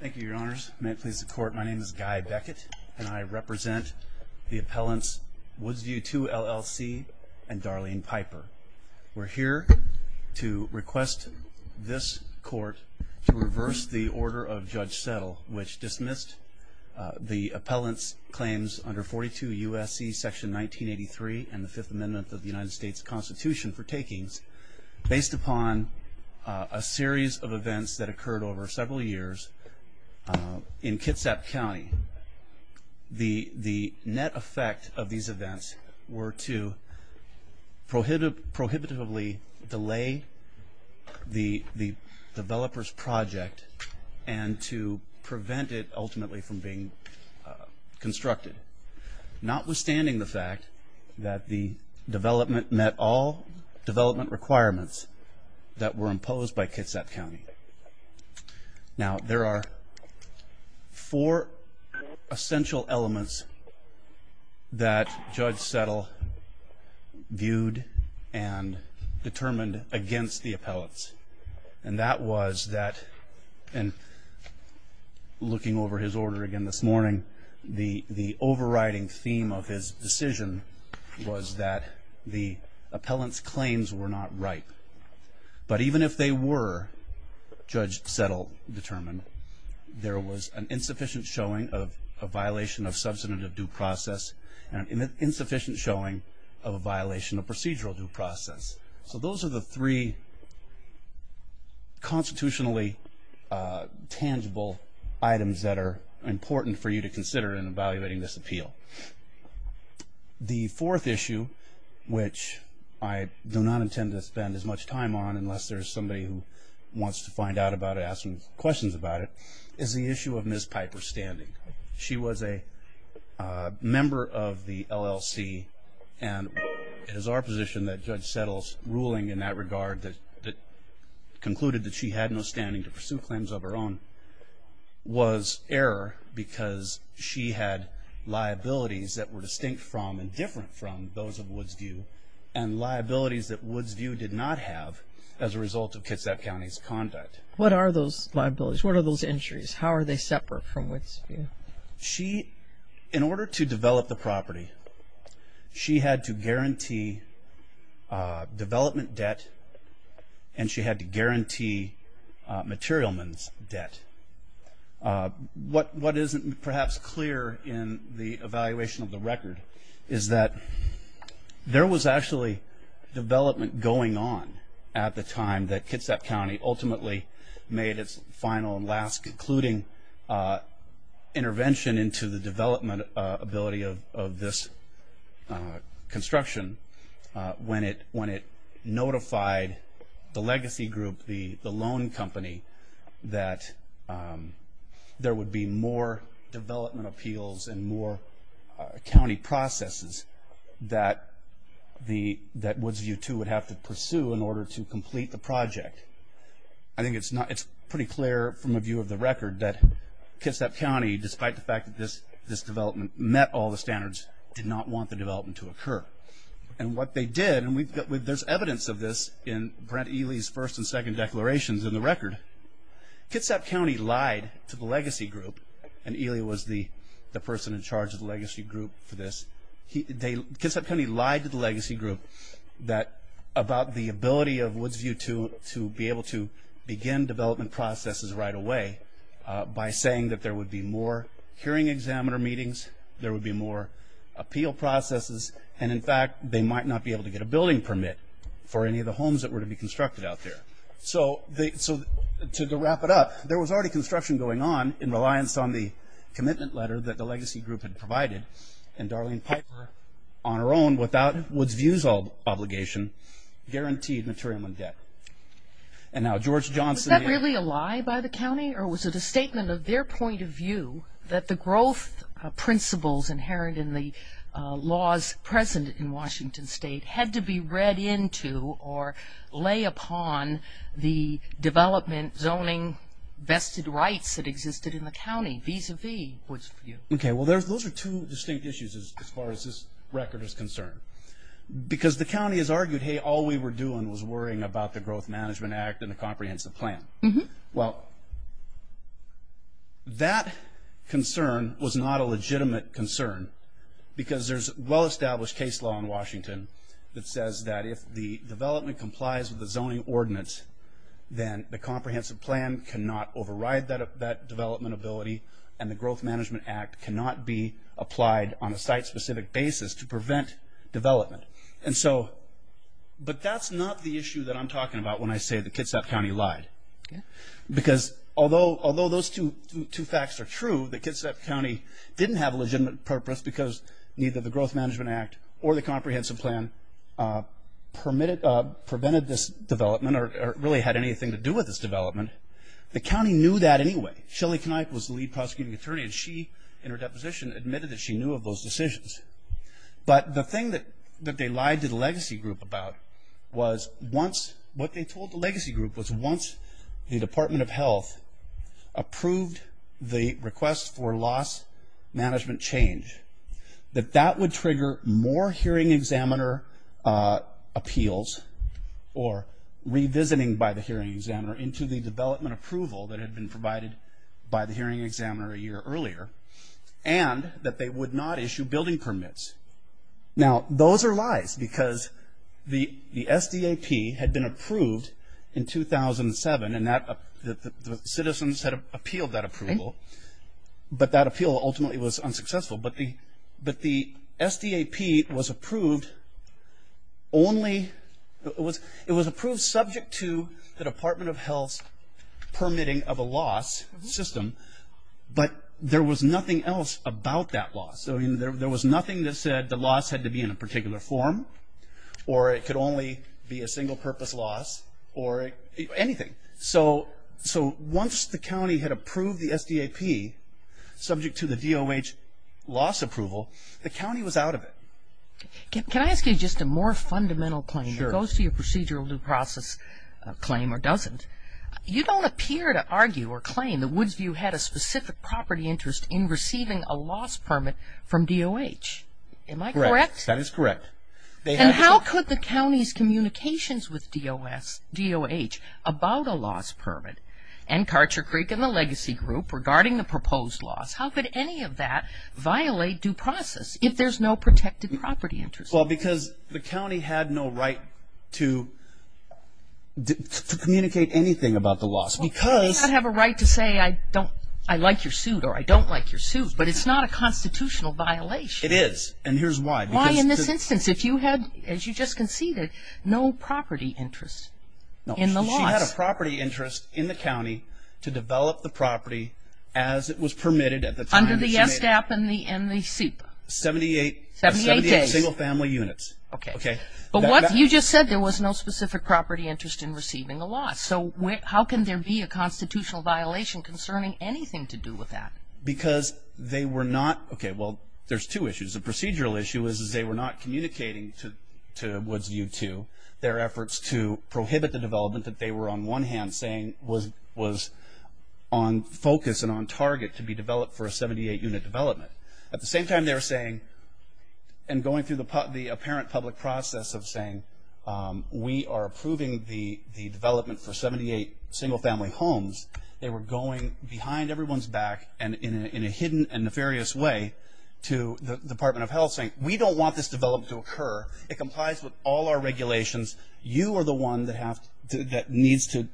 Thank you, your honors. May it please the court, my name is Guy Beckett and I represent the appellants Woods View II LLC and Darlene Piper. We're here to request this court to reverse the order of Judge Settle which dismissed the appellants claims under 42 USC section 1983 and the Fifth Amendment of the United States Constitution for takings based upon a series of events that in Kitsap County, the net effect of these events were to prohibitively delay the developers project and to prevent it ultimately from being constructed, notwithstanding the fact that the development met all development requirements that were imposed by Kitsap County. Now there are four essential elements that Judge Settle viewed and determined against the appellants and that was that, and looking over his order again this morning, the overriding theme of his decision was that the appellants claims were not ripe. But even if they were, Judge Settle determined, there was an insufficient showing of a violation of substantive due process and an insufficient showing of a violation of procedural due process. So those are the three constitutionally tangible items that are important for you to consider in evaluating this appeal. The fourth issue, which I do not intend to spend as much time on unless there's somebody who wants to find out about it, ask some questions about it, is the issue of Ms. Piper's standing. She was a member of the LLC and it is our position that Judge Settle's ruling in that regard that concluded that she had no standing to error because she had liabilities that were distinct from and different from those of Woods View and liabilities that Woods View did not have as a result of Kitsap County's conduct. What are those liabilities? What are those injuries? How are they separate from Woods View? She, in order to develop the property, she had to guarantee development debt and she had to guarantee materialman's debt. What isn't perhaps clear in the evaluation of the record is that there was actually development going on at the time that Kitsap County ultimately made its final and last concluding intervention into the development ability of this construction when it notified the legacy group, the loan company, that there would be more development appeals and more county processes that Woods View 2 would have to pursue in order to complete the project. I think it's pretty clear from a view of the record that Kitsap County, despite the fact that this development met all the standards, did not want the development to occur. And what they did, and there's evidence of this in Brent Ely's first and second declarations in the record, Kitsap County lied to the legacy group, and Ely was the person in charge of the legacy group for this, Kitsap County lied to the legacy group about the ability of Woods View 2 to be able to begin development processes right away by saying that there would be more hearing examiner meetings, there would be more appeal processes, and in fact, they might not be able to get a building permit for any of the homes that were to be constructed out there. So to wrap it up, there was already construction going on in reliance on the commitment letter that the legacy group had provided, and Darlene Piper, on her own, without Woods View's obligation, guaranteed materialman debt. And now George Johnson... Was that really a lie by the county, or was it a statement of their point of view that the growth principles inherent in the laws present in Washington state had to be read into or lay upon the development zoning vested rights that existed in the county vis-a-vis Woods View? Okay, well, those are two distinct issues as far as this record is concerned. Because the county has argued, hey, all we were doing was worrying about the Growth Management Act and the comprehensive plan. Well, that concern was not a legitimate concern, because there's well-established case law in Washington that says that if the development complies with the zoning ordinance, then the comprehensive plan cannot override that development ability, and the Growth Management Act cannot be applied on a site-specific basis to prevent development. And so... But that's not the issue that I'm talking about when I say the Kitsap County lied. Because although those two facts are true, the Kitsap County didn't have a legitimate purpose because neither the Growth Management Act or the comprehensive plan prevented this development or really had anything to do with this development, the county knew that anyway. Shelley Kneipp was the lead prosecuting attorney, and she, in her deposition, admitted that she knew of those decisions. But the thing that they lied to the Legacy Group about was once... What they told the Legacy Group was once the Department of Health approved the request for loss management change, that that would trigger more hearing examiner appeals or revisiting by the hearing examiner into the development approval that had been provided by the hearing examiner a year earlier, and that they would not issue building permits. Now, those are lies because the SDAP had been approved in 2007, and the citizens had appealed that approval, but that appeal ultimately was unsuccessful. But the SDAP was approved only... It was approved subject to the Department of Health's permitting of a loss system, but there was nothing else about that loss. So there was nothing that said the loss had to be in a particular form, or it could only be a single-purpose loss, or anything. So once the county had approved the SDAP subject to the DOH loss approval, the county was out of it. Can I ask you just a more fundamental claim that goes to your procedural due process claim or doesn't? You don't appear to argue or claim that Woodsview had a specific property interest in receiving a loss permit from DOH. Am I correct? That is correct. And how could the county's communications with DOH about a loss permit, and Karcher Creek and the Legacy Group regarding the proposed loss, how could any of that violate due process if there's no protected property interest? Well, because the county had no right to communicate anything about the loss. Well, you do not have a right to say I like your suit or I don't like your suit, but it's not a constitutional violation. It is, and here's why. Why in this instance? If you had, as you just conceded, no property interest in the loss. No, she had a property interest in the county to develop the property as it was permitted at the time. Under the SDAP and the SIPA. 78 single-family units. Okay. But you just said there was no specific property interest in receiving a loss. So how can there be a constitutional violation concerning anything to do with that? Because they were not, okay, well, there's two issues. The procedural issue is they were not communicating to Woodsview to their efforts to prohibit the development that they were on one hand saying was on focus and on target to be developed for a 78-unit development. At the same time, they were saying and going through the apparent public process of saying we are approving the development for 78 single-family homes. They were going behind everyone's back and in a hidden and nefarious way to the Department of Health saying we don't want this development to occur. It complies with all our regulations. You are the one that needs to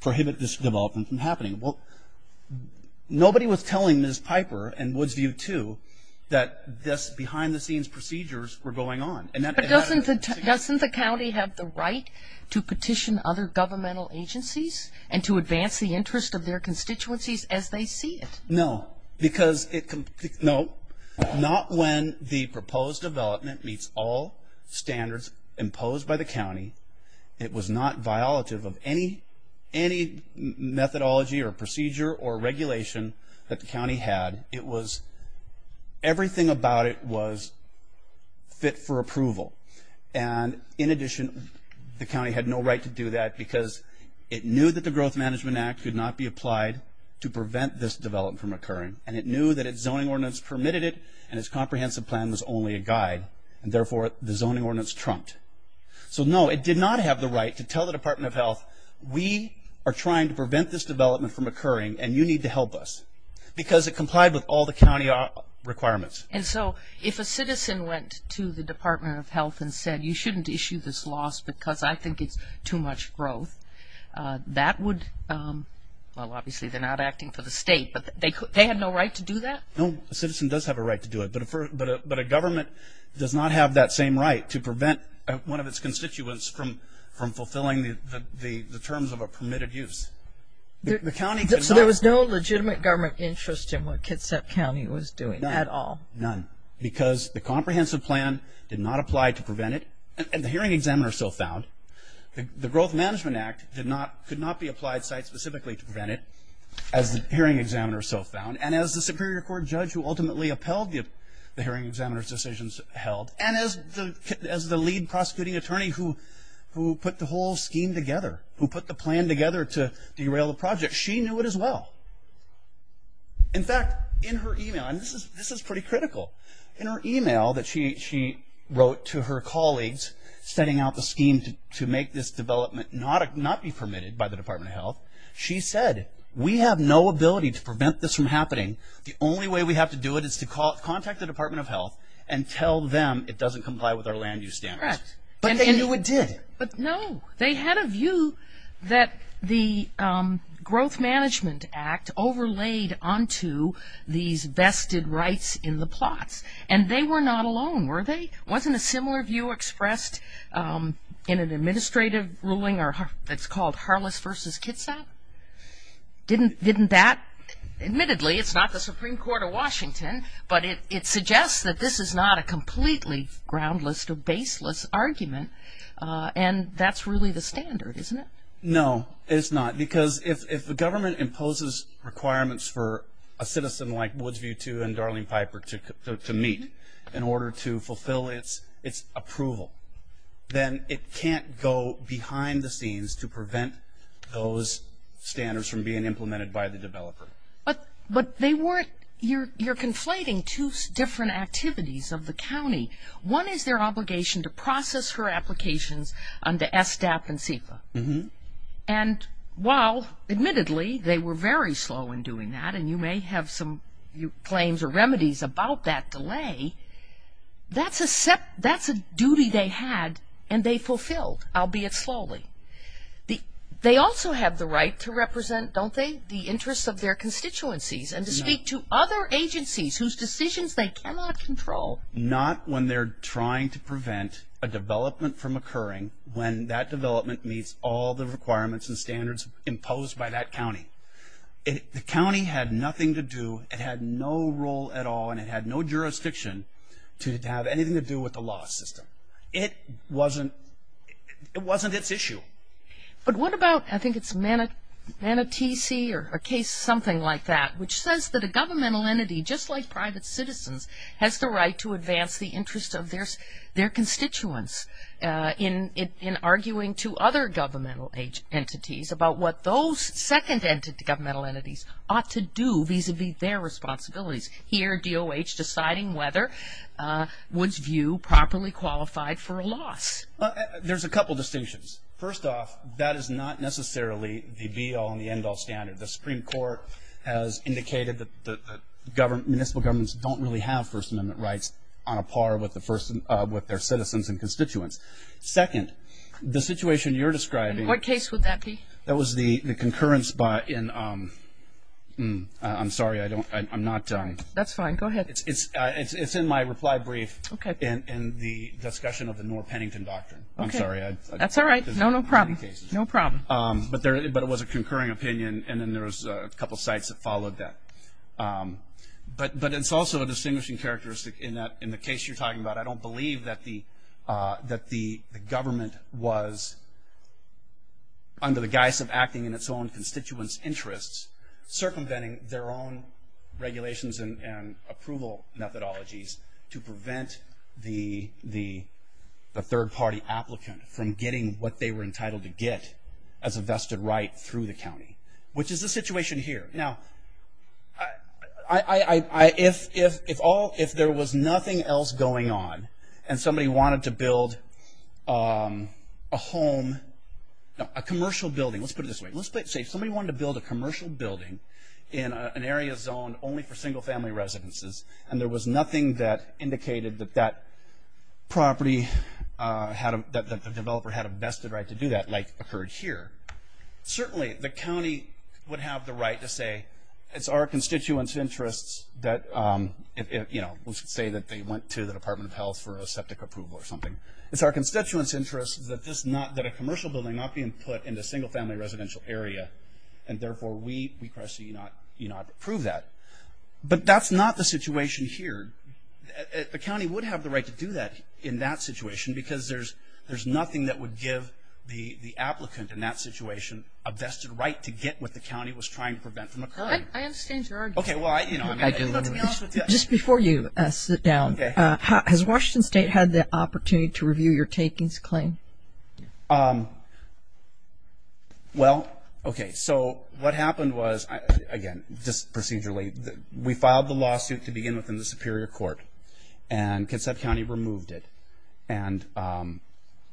prohibit this development from happening. Well, nobody was telling Ms. Piper and Woodsview, too, that this behind-the-scenes procedures were going on. But doesn't the county have the right to petition other governmental agencies and to advance the interest of their constituencies as they see it? No. Because it, no, not when the proposed development meets all standards imposed by the county, it was not violative of any methodology or procedure or regulation that the county had. It was, everything about it was fit for approval. And in addition, the county had no right to do that because it knew that the Growth Management Act could not be applied to prevent this development from occurring. And it knew that its zoning ordinance permitted it and its comprehensive plan was only a guide and, therefore, the zoning ordinance trumped. So, no, it did not have the right to tell the Department of Health, we are trying to prevent this development from occurring and you need to help us. Because it complied with all the county requirements. And so, if a citizen went to the Department of Health and said, you shouldn't issue this loss because I think it's too much growth, that would, well, obviously they're not acting for the state, but they had no right to do that? No, a citizen does have a right to do it. But a government does not have that same right to prevent one of its constituents from fulfilling the terms of a permitted use. The county could not. So, there was no legitimate government interest in what Kitsap County was doing at all? None. Because the comprehensive plan did not apply to prevent it. And the hearing examiner still found. The Growth Management Act did not, could not be applied specifically to prevent it as the hearing examiner still found. And as the Superior Court judge who ultimately upheld the hearing examiner's decisions held, and as the lead prosecuting attorney who put the whole scheme together, who put the plan together to derail the project, she knew it as well. In fact, in her email, and this is pretty critical. In her email that she wrote to her colleagues setting out the scheme to make this development not be permitted by the Department of Health, she said, we have no ability to prevent this from happening. The only way we have to do it is to contact the Department of Health and tell them it doesn't comply with our land use standards. But they knew it did. But no, they had a view that the Growth Management Act overlaid onto these vested rights in the plots. And they were not alone, were they? Wasn't a similar view expressed in an administrative ruling that's called Harless versus Kitsap? Didn't that, admittedly, it's not the Supreme Court of Washington, but it suggests that this is not a completely groundless or baseless argument. And that's really the standard, isn't it? No, it's not. Because if the government imposes requirements for a citizen like Woodsview II and Darlene Piper to meet in order to fulfill its approval, then it can't go behind the scenes to prevent those standards from being implemented by the developer. But they weren't, you're conflating two different activities of the county. One is their obligation to process her applications under SDAP and CFA. And while, admittedly, they were very slow in doing that, and you may have some claims or remedies about that delay, that's a duty they had, and they fulfilled, albeit slowly. They also have the right to represent, don't they, the interests of their constituencies and to speak to other agencies whose decisions they cannot control. Not when they're trying to prevent a development from occurring when that development meets all the requirements and standards imposed by that county. The county had nothing to do, it had no role at all, and it had no jurisdiction to have anything to do with the law system. It wasn't, it wasn't its issue. But what about, I think it's Manatee Sea or a case something like that, which says that a governmental entity, just like private citizens, has the right to advance the interest of their constituents in arguing to other governmental entities about what those second governmental entities ought to do vis-a-vis their responsibilities. Here, DOH deciding whether Woods View properly qualified for a loss. There's a couple distinctions. First off, that is not necessarily the be-all and the end-all standard. The Supreme Court has indicated that municipal governments don't really have First Amendment rights on a par with their citizens and constituents. Second, the situation you're describing. What case would that be? That was the concurrence by, in, I'm sorry, I don't, I'm not. That's fine, go ahead. It's in my reply brief in the discussion of the Noor-Pennington Doctrine. I'm sorry. That's all right. No, no problem. No problem. But there, but it was a concurring opinion, and then there was a couple sites that followed that. But it's also a distinguishing characteristic in that, in the case you're talking about, I don't believe that the government was, under the guise of acting in its own constituents' interests, circumventing their own regulations and approval methodologies to prevent the third-party applicant from getting what they were entitled to get as a vested right through the county, which is the situation here. Now, if all, if there was nothing else going on, and somebody wanted to build a home, a commercial building, let's put it this way. Let's say somebody wanted to build a commercial building in an area zoned only for single-family residences, and there was nothing that indicated that that property, that the developer had a vested right to do that, like occurred here, certainly the county would have the right to say, it's our constituents' interests that, you know, let's say that they went to the Department of Health for a septic approval or something. It's our constituents' interests that this not, that a commercial building not be put in a single-family residential area, and therefore, we, we, Cresce, do not approve that. But that's not the situation here. The county would have the right to do that in that situation, because there's nothing that would give the applicant in that situation a vested right to get what the county was trying to prevent from occurring. I understand your argument. Okay, well, I, you know, I mean, let's be honest with you. Just before you sit down, has Washington State had the opportunity to review your takings claim? Well, okay, so what happened was, again, just procedurally, we filed the lawsuit to begin with in the Superior Court, and Kitsap County removed it. And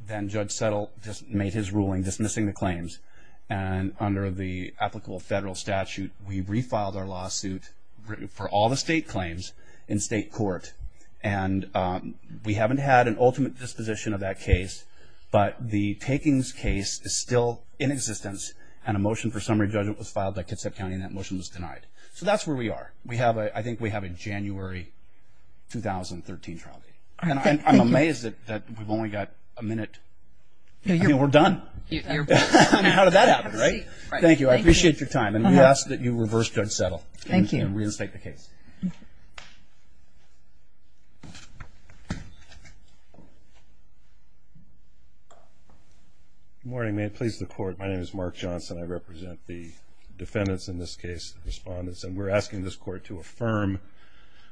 then Judge Settle just made his ruling dismissing the claims. And under the applicable federal statute, we refiled our lawsuit for all the state claims in state court. And we haven't had an ultimate disposition of that case, but the takings case is still in existence. And a motion for summary judgment was filed by Kitsap County, and that motion was denied. So that's where we are. We have a, I think we have a January 2013 trial date. And I'm amazed that we've only got a minute. I mean, we're done. How did that happen, right? Thank you. I appreciate your time. And we ask that you reverse Judge Settle and reinstate the case. Good morning. May it please the Court. My name is Mark Johnson. I represent the defendants in this case, the respondents. And we're asking this Court to affirm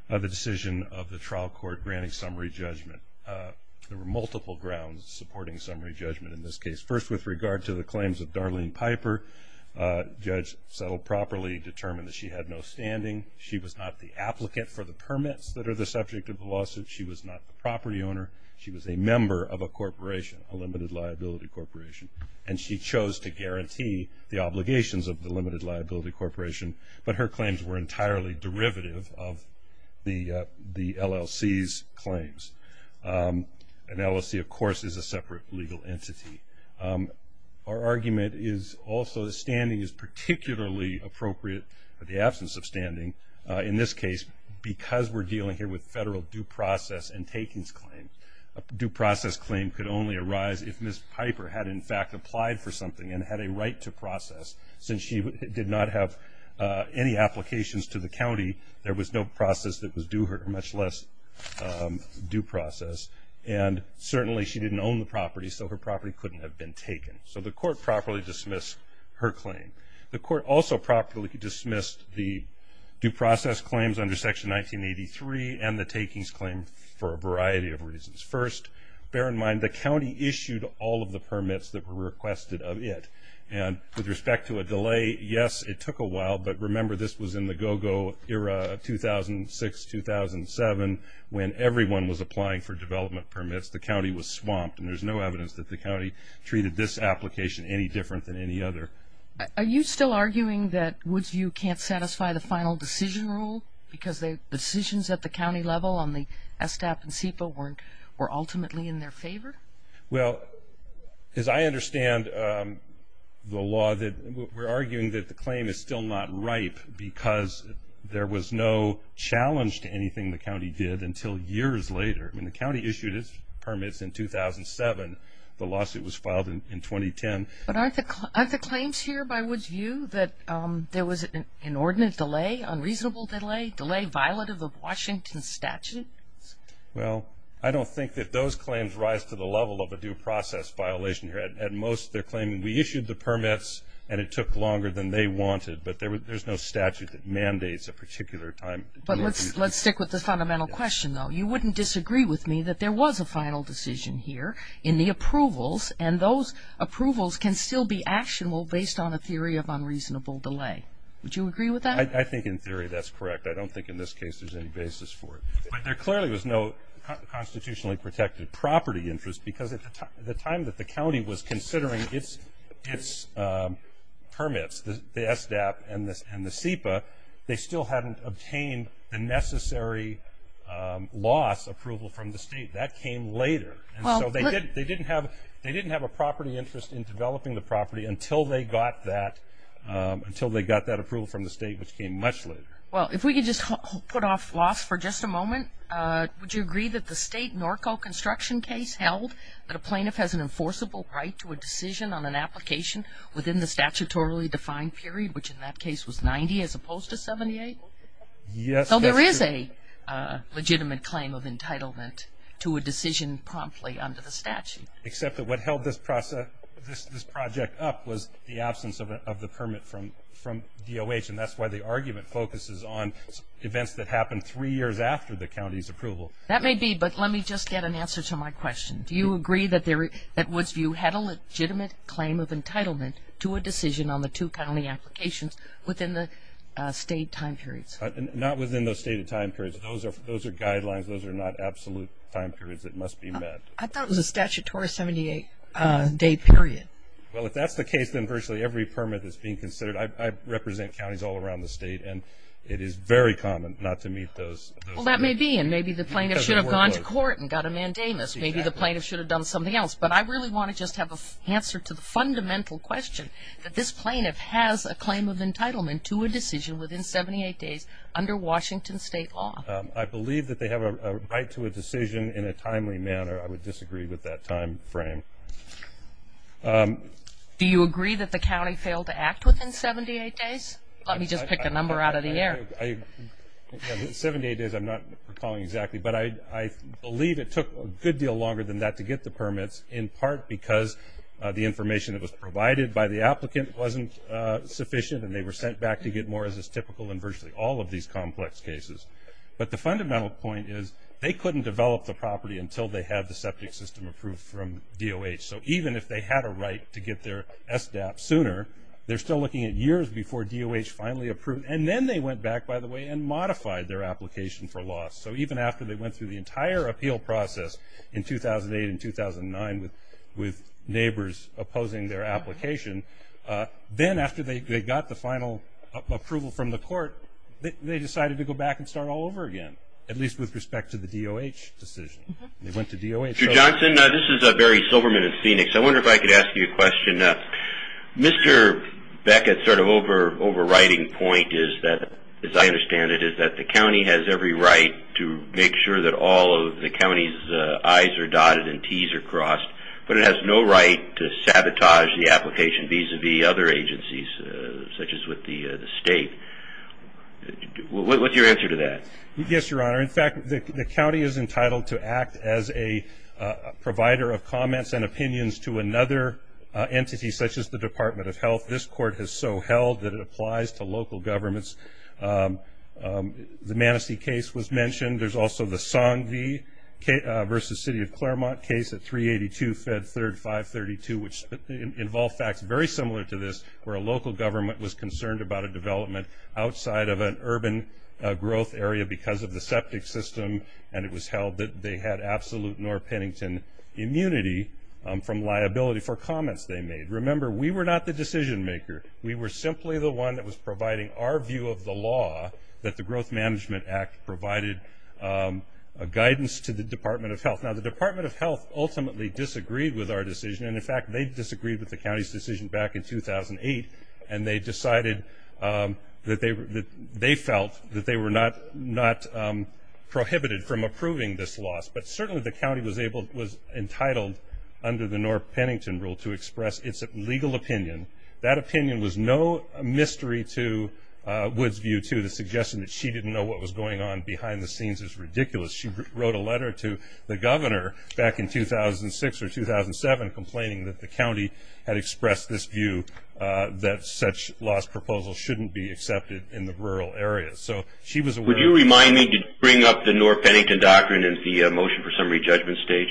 the decision of the trial court granting summary judgment. There were multiple grounds supporting summary judgment in this case. First, with regard to the claims of Darlene Piper, Judge Settle properly determined that she had no standing. She was not the applicant for the permits that are the subject of the lawsuit. She was not the property owner. She was a member of a corporation, a limited liability corporation. And she chose to guarantee the obligations of the limited liability corporation. But her claims were entirely derivative of the LLC's claims. An LLC, of course, is a separate legal entity. Our argument is also that standing is particularly appropriate in the absence of standing in this case because we're dealing here with federal due process and takings claims. A due process claim could only arise if Ms. Piper had, in fact, applied for something and had a right to process. Since she did not have any applications to the county, there was no process that was due her, much less due process. And certainly, she didn't own the property, so her property couldn't have been taken. So the Court properly dismissed her claim. The Court also properly dismissed the due process claims under Section 1983 and the takings claim for a variety of reasons. First, bear in mind, the county issued all of the permits that were requested of it. And with respect to a delay, yes, it took a while. But remember, this was in the go-go era of 2006, 2007, when everyone was applying for development permits. The county was swamped. And there's no evidence that the county treated this application any different than any other. Are you still arguing that Woodsview can't satisfy the final decision rule because the decisions at the county level on the SDAP and SEPA were ultimately in their favor? Well, as I understand the law, we're arguing that the claim is still not ripe because there was no challenge to anything the county did until years later. I mean, the county issued its permits in 2007. The lawsuit was filed in 2010. But aren't the claims here by Woodsview that there was an inordinate delay, unreasonable delay, delay violative of Washington's statute? Well, I don't think that those claims rise to the level of a due process violation here. At most, they're claiming we issued the permits and it took longer than they wanted. But there's no statute that mandates a particular time. But let's stick with the fundamental question, though. You wouldn't disagree with me that there was a final decision here in the approvals. And those approvals can still be actionable based on a theory of unreasonable delay. Would you agree with that? I think in theory that's correct. I don't think in this case there's any basis for it. But there clearly was no constitutionally protected property interest because at the time that the county was considering its permits, the SDAP and the SEPA, they still hadn't obtained the necessary loss approval from the state. That came later. And so they didn't have a property interest in developing the property until they got that approval from the state, which came much later. Well, if we could just put off loss for just a moment, would you agree that the state NORCO construction case held that a plaintiff has an enforceable right to a decision on an application within the statutorily defined period, which in that case was 90 as opposed to 78? Yes. So there is a legitimate claim of entitlement to a decision promptly under the statute. Except that what held this project up was the absence of the permit from DOH. And that's why the argument focuses on events that happened three years after the county's approval. That may be, but let me just get an answer to my question. Do you agree that Woodsview had a legitimate claim of entitlement to a decision on the two county applications within the state time periods? Not within the stated time periods. Those are guidelines. Those are not absolute time periods. It must be met. I thought it was a statutory 78 day period. Well, if that's the case, then virtually every permit is being considered. I represent counties all around the state, and it is very common not to meet those. Well, that may be, and maybe the plaintiff should have gone to court and got a mandamus. Maybe the plaintiff should have done something else. But I really want to just have an answer to the fundamental question that this plaintiff has a claim of entitlement to a decision within 78 days under Washington state law. I believe that they have a right to a decision in a timely manner. I would disagree with that time frame. Do you agree that the county failed to act within 78 days? Let me just pick a number out of the air. 78 days, I'm not recalling exactly, but I believe it took a good deal longer than that to get the permits in part because the information that was provided by the applicant wasn't sufficient, and they were sent back to get more as is typical in virtually all of these complex cases. But the fundamental point is they couldn't develop the property until they had the septic system approved from DOH. So even if they had a right to get their SDAP sooner, they're still looking at years before DOH finally approved. And then they went back, by the way, and modified their application for loss. So even after they went through the entire appeal process in 2008 and 2009 with neighbors opposing their application, then after they got the final approval from the court, they decided to go back and start all over again, at least with respect to the DOH decision. They went to DOH. Mr. Johnson, this is Barry Silverman in Phoenix. I wonder if I could ask you a question. Mr. Beckett's sort of overriding point is that, as I understand it, is that the county has every right to make sure that all of the county's I's are dotted and T's are crossed. But it has no right to sabotage the application vis-a-vis other agencies such as with the state. What's your answer to that? Yes, Your Honor. In fact, the county is entitled to act as a provider of comments and opinions to another entity such as the Department of Health. This court has so held that it applies to local governments. The Manasseh case was mentioned. There's also the Song V versus City of Claremont case at 382 Fed 3rd 532, which involved facts very similar to this, where a local government was concerned about a development outside of an urban growth area because of the septic system. And it was held that they had absolute Norr-Pennington immunity from liability for comments they made. Remember, we were not the decision maker. We were simply the one that was providing our view of the law that the Growth Management Act provided guidance to the Department of Health. Now, the Department of Health ultimately disagreed with our decision. And in fact, they disagreed with the county's decision back in 2008. And they decided that they felt that they were not prohibited from approving this loss. But certainly, the county was entitled under the Norr-Pennington rule to express its legal opinion. That opinion was no mystery to Woodsview, too. The suggestion that she didn't know what was going on behind the scenes is ridiculous. She wrote a letter to the governor back in 2006 or 2007 complaining that the county had expressed this view that such loss proposals shouldn't be accepted in the rural area. So, she was aware. Would you remind me to bring up the Norr-Pennington doctrine and the motion for summary judgment stage?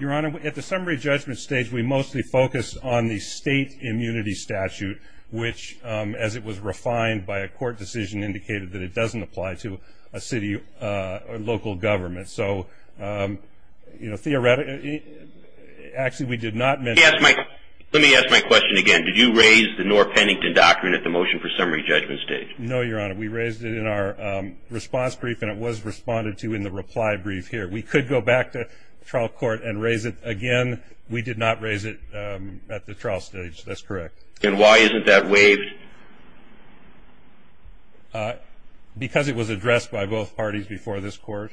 Your Honor, at the summary judgment stage, we mostly focused on the state immunity statute, which, as it was refined by a court decision, indicated that it doesn't apply to a city or local government. So, you know, theoretically, actually, we did not mention. Let me ask my question again. Did you raise the Norr-Pennington doctrine at the motion for summary judgment stage? No, Your Honor. We raised it in our response brief. And it was responded to in the reply brief here. We could go back to trial court and raise it again. We did not raise it at the trial stage. That's correct. And why isn't that waived? Because it was addressed by both parties before this court.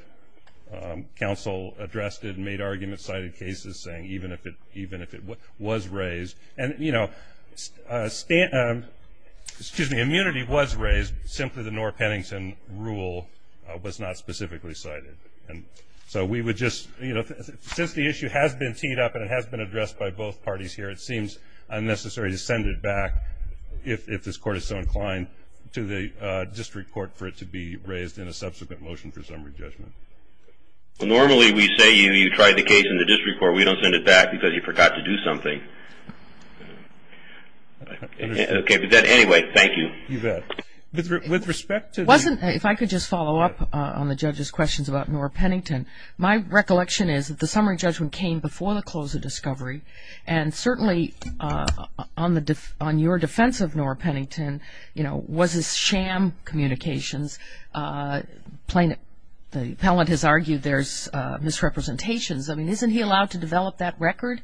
Counsel addressed it and made arguments, cited cases, saying even if it was raised. And, you know, excuse me, immunity was raised, simply the Norr-Pennington rule was not specifically cited. And so, we would just, you know, since the issue has been teed up and it has been addressed by both parties here, it seems unnecessary to send it back if this court is so inclined to the district court for it to be raised in a subsequent motion for summary judgment. Well, normally, we say you tried the case in the district court. We don't send it back because you forgot to do something. Okay. But then anyway, thank you. You bet. With respect to. Wasn't, if I could just follow up on the judge's questions about Norr-Pennington. My recollection is that the summary judgment came before the close of discovery. And certainly, on your defense of Norr-Pennington, you know, was his sham communications. The appellant has argued there's misrepresentations. I mean, isn't he allowed to develop that record?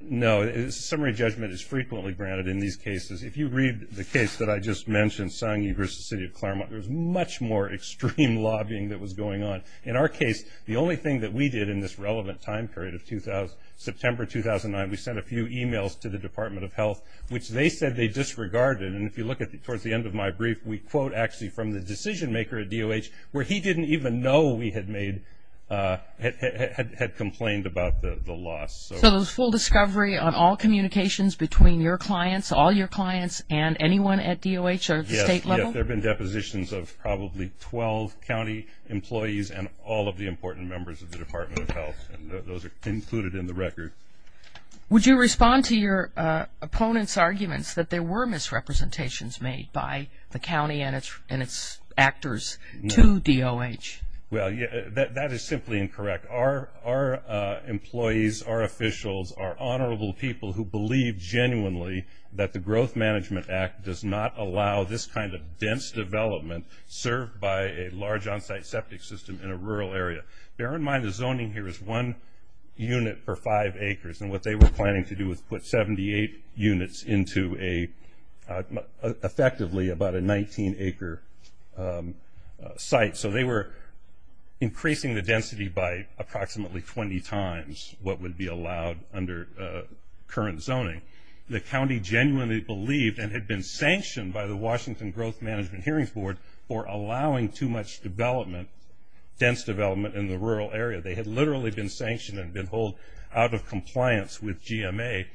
No. Summary judgment is frequently granted in these cases. If you read the case that I just mentioned, Sangi v. City of Claremont, there's much more extreme lobbying that was going on. In our case, the only thing that we did in this relevant time period of September 2009, we sent a few e-mails to the Department of Health, which they said they disregarded. And if you look towards the end of my brief, we quote actually from the decision-maker at DOH where he didn't even know we had made, had complained about the loss. So it was full discovery on all communications between your clients, all your clients, and anyone at DOH or at the state level? There have been depositions of probably 12 county employees and all of the important members of the Department of Health, and those are included in the record. Would you respond to your opponent's arguments that there were misrepresentations made by the county and its actors to DOH? Well, that is simply incorrect. Our employees, our officials, our honorable people who believe genuinely that the Growth Management Act does not allow this kind of dense development served by a large on-site septic system in a rural area. Bear in mind the zoning here is one unit per five acres, and what they were planning to do was put 78 units into effectively about a 19-acre site. So they were increasing the density by approximately 20 times what would be allowed under current zoning. The county genuinely believed and had been sanctioned by the Washington Growth Management Hearings Board for allowing too much development, dense development in the rural area. They had literally been sanctioned and been held out of compliance with GMA.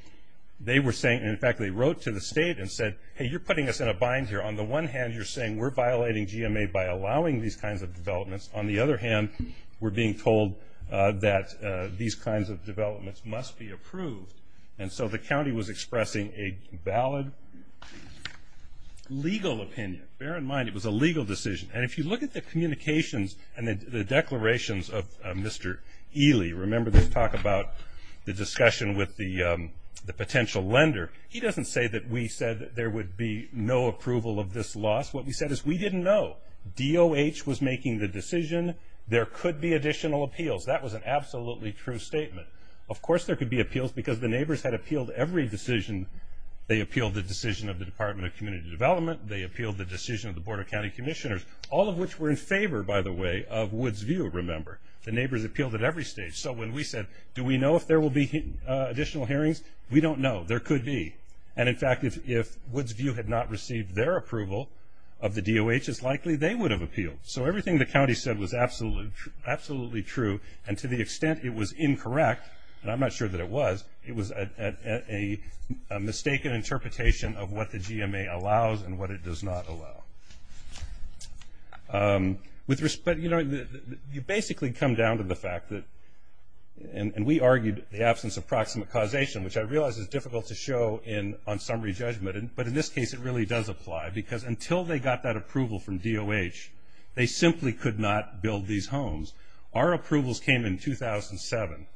They were saying, in fact, they wrote to the state and said, hey, you're putting us in a bind here. On the one hand, you're saying we're violating GMA by allowing these kinds of developments. On the other hand, we're being told that these kinds of developments must be approved. And so the county was expressing a valid legal opinion. Bear in mind it was a legal decision. And if you look at the communications and the declarations of Mr. Ely, remember this talk about the discussion with the potential lender, he doesn't say that we said there would be no approval of this loss. What we said is we didn't know. DOH was making the decision. There could be additional appeals. That was an absolutely true statement. Of course there could be appeals because the neighbors had appealed every decision. They appealed the decision of the Department of Community Development. They appealed the decision of the Board of County Commissioners, all of which were in favor, by the way, of Woods View, remember. The neighbors appealed at every stage. So when we said, do we know if there will be additional hearings? We don't know. There could be. And in fact, if Woods View had not received their approval of the DOH, it's likely they would have appealed. So everything the county said was absolutely true. And to the extent it was incorrect, and I'm not sure that it was, it was a mistaken interpretation of what the GMA allows and what it does not allow. You basically come down to the fact that, and we argued the absence of proximate causation, which I realize is difficult to show on summary judgment. But in this case, it really does apply. Because until they got that approval from DOH, they simply could not build these homes. Our approvals came in 2007.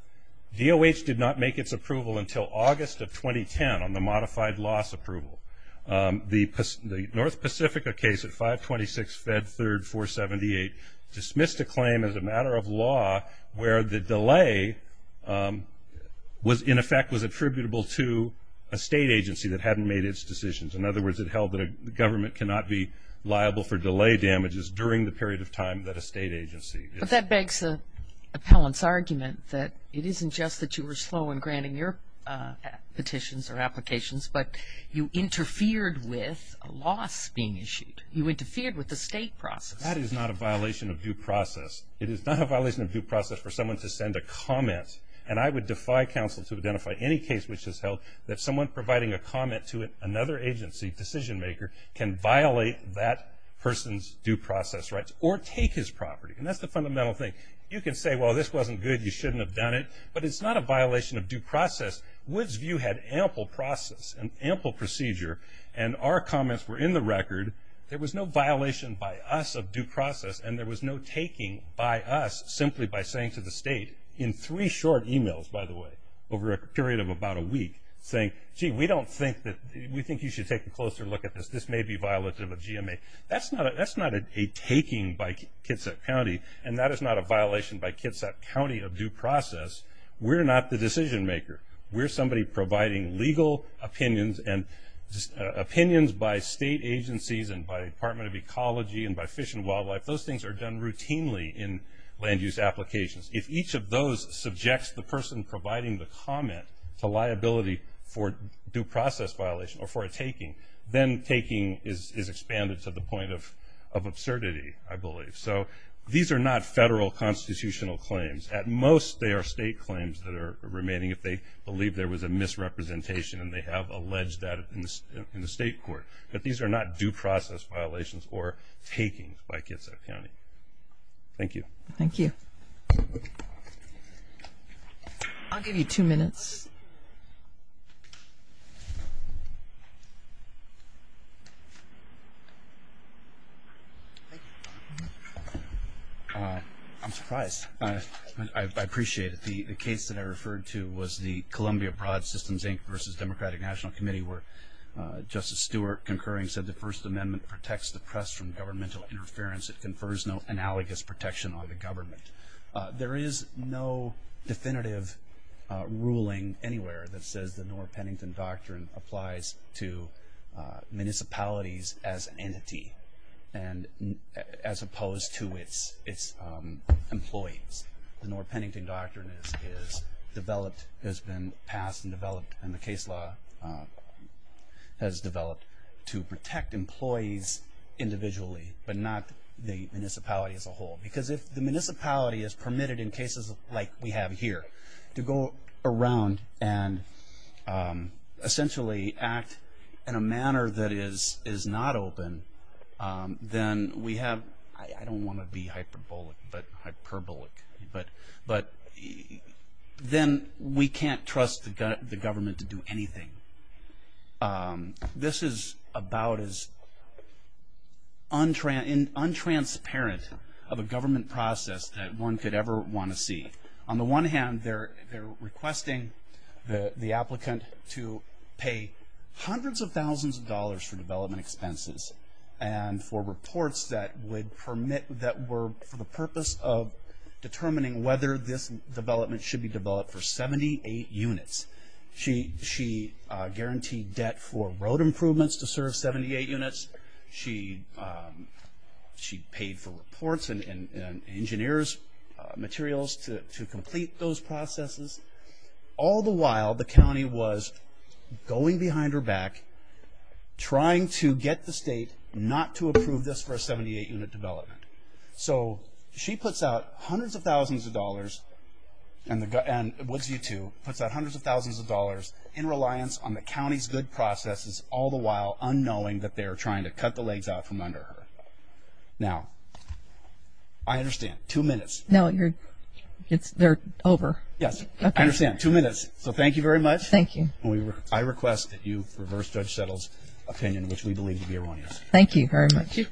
DOH did not make its approval until August of 2010 on the modified loss approval. The North Pacific case at 526 Fed 3rd 478 dismissed a claim as a matter of law where the delay was, in effect, was attributable to a state agency that hadn't made its decisions. In other words, it held that a government cannot be liable for delay damages during the period of time that a state agency is. But that begs the appellant's argument that it isn't just that you were slow in granting your petitions or applications, but you interfered with a loss being issued. You interfered with the state process. That is not a violation of due process. It is not a violation of due process for someone to send a comment. And I would defy counsel to identify any case which has held that someone providing a comment to another agency, decision maker, can violate that person's due process rights. Or take his property. And that's the fundamental thing. You can say, well, this wasn't good. You shouldn't have done it. But it's not a violation of due process. Woods' view had ample process and ample procedure. And our comments were in the record. There was no violation by us of due process. And there was no taking by us simply by saying to the state, in three short emails, by the way, over a period of about a week, saying, gee, we don't think that, we think you should take a closer look at this. This may be violative of GMA. That's not a taking by Kitsap County. And that is not a violation by Kitsap County of due process. We're not the decision maker. We're somebody providing legal opinions and opinions by state agencies and by Department of Ecology and by Fish and Wildlife. Those things are done routinely in land use applications. If each of those subjects the person providing the comment to liability for due process violation or for a taking, then taking is expanded to the point of absurdity, I believe. So these are not federal constitutional claims. At most, they are state claims that are remaining if they believe there was a misrepresentation. And they have alleged that in the state court. But these are not due process violations or takings by Kitsap County. Thank you. Thank you. I'll give you two minutes. I'm surprised. I appreciate it. The case that I referred to was the Columbia Broad Systems, Inc. versus Democratic National Committee, where Justice Stewart concurring said the First Amendment protects the press from governmental interference. It confers no analogous protection on the government. There is no definitive ruling anywhere that says the Norr-Pennington Doctrine applies to municipalities as an entity as opposed to its employees. The Norr-Pennington Doctrine has been passed and developed and the case law has developed to protect employees individually, but not the municipality as a whole. Because if the municipality is permitted in cases like we have here to go around and essentially act in a manner that is not open, then we have, I don't want to be hyperbolic, but then we can't trust the government to do anything. This is about as untransparent of a government process that one could ever want to see. On the one hand, they're requesting the applicant to pay hundreds of thousands of dollars for development expenses and for reports that were for the purpose of determining whether this development should be developed for 78 units. She guaranteed debt for road improvements to serve 78 units. She paid for reports and engineers' materials to complete those processes. All the while, the county was going behind her back, trying to get the state not to approve this for a 78-unit development. So she puts out hundreds of thousands of dollars, and Woodsview, too, puts out hundreds of thousands of dollars in reliance on the county's good processes, all the while unknowing that they're trying to cut the legs out from under her. Now, I understand. Two minutes. No, you're, it's, they're over. Yes. Okay. I understand. Two minutes. So thank you very much. Thank you. And we, I request that you reverse Judge Settle's opinion, which we believe to be erroneous. Thank you very much. Thank you. Thank you.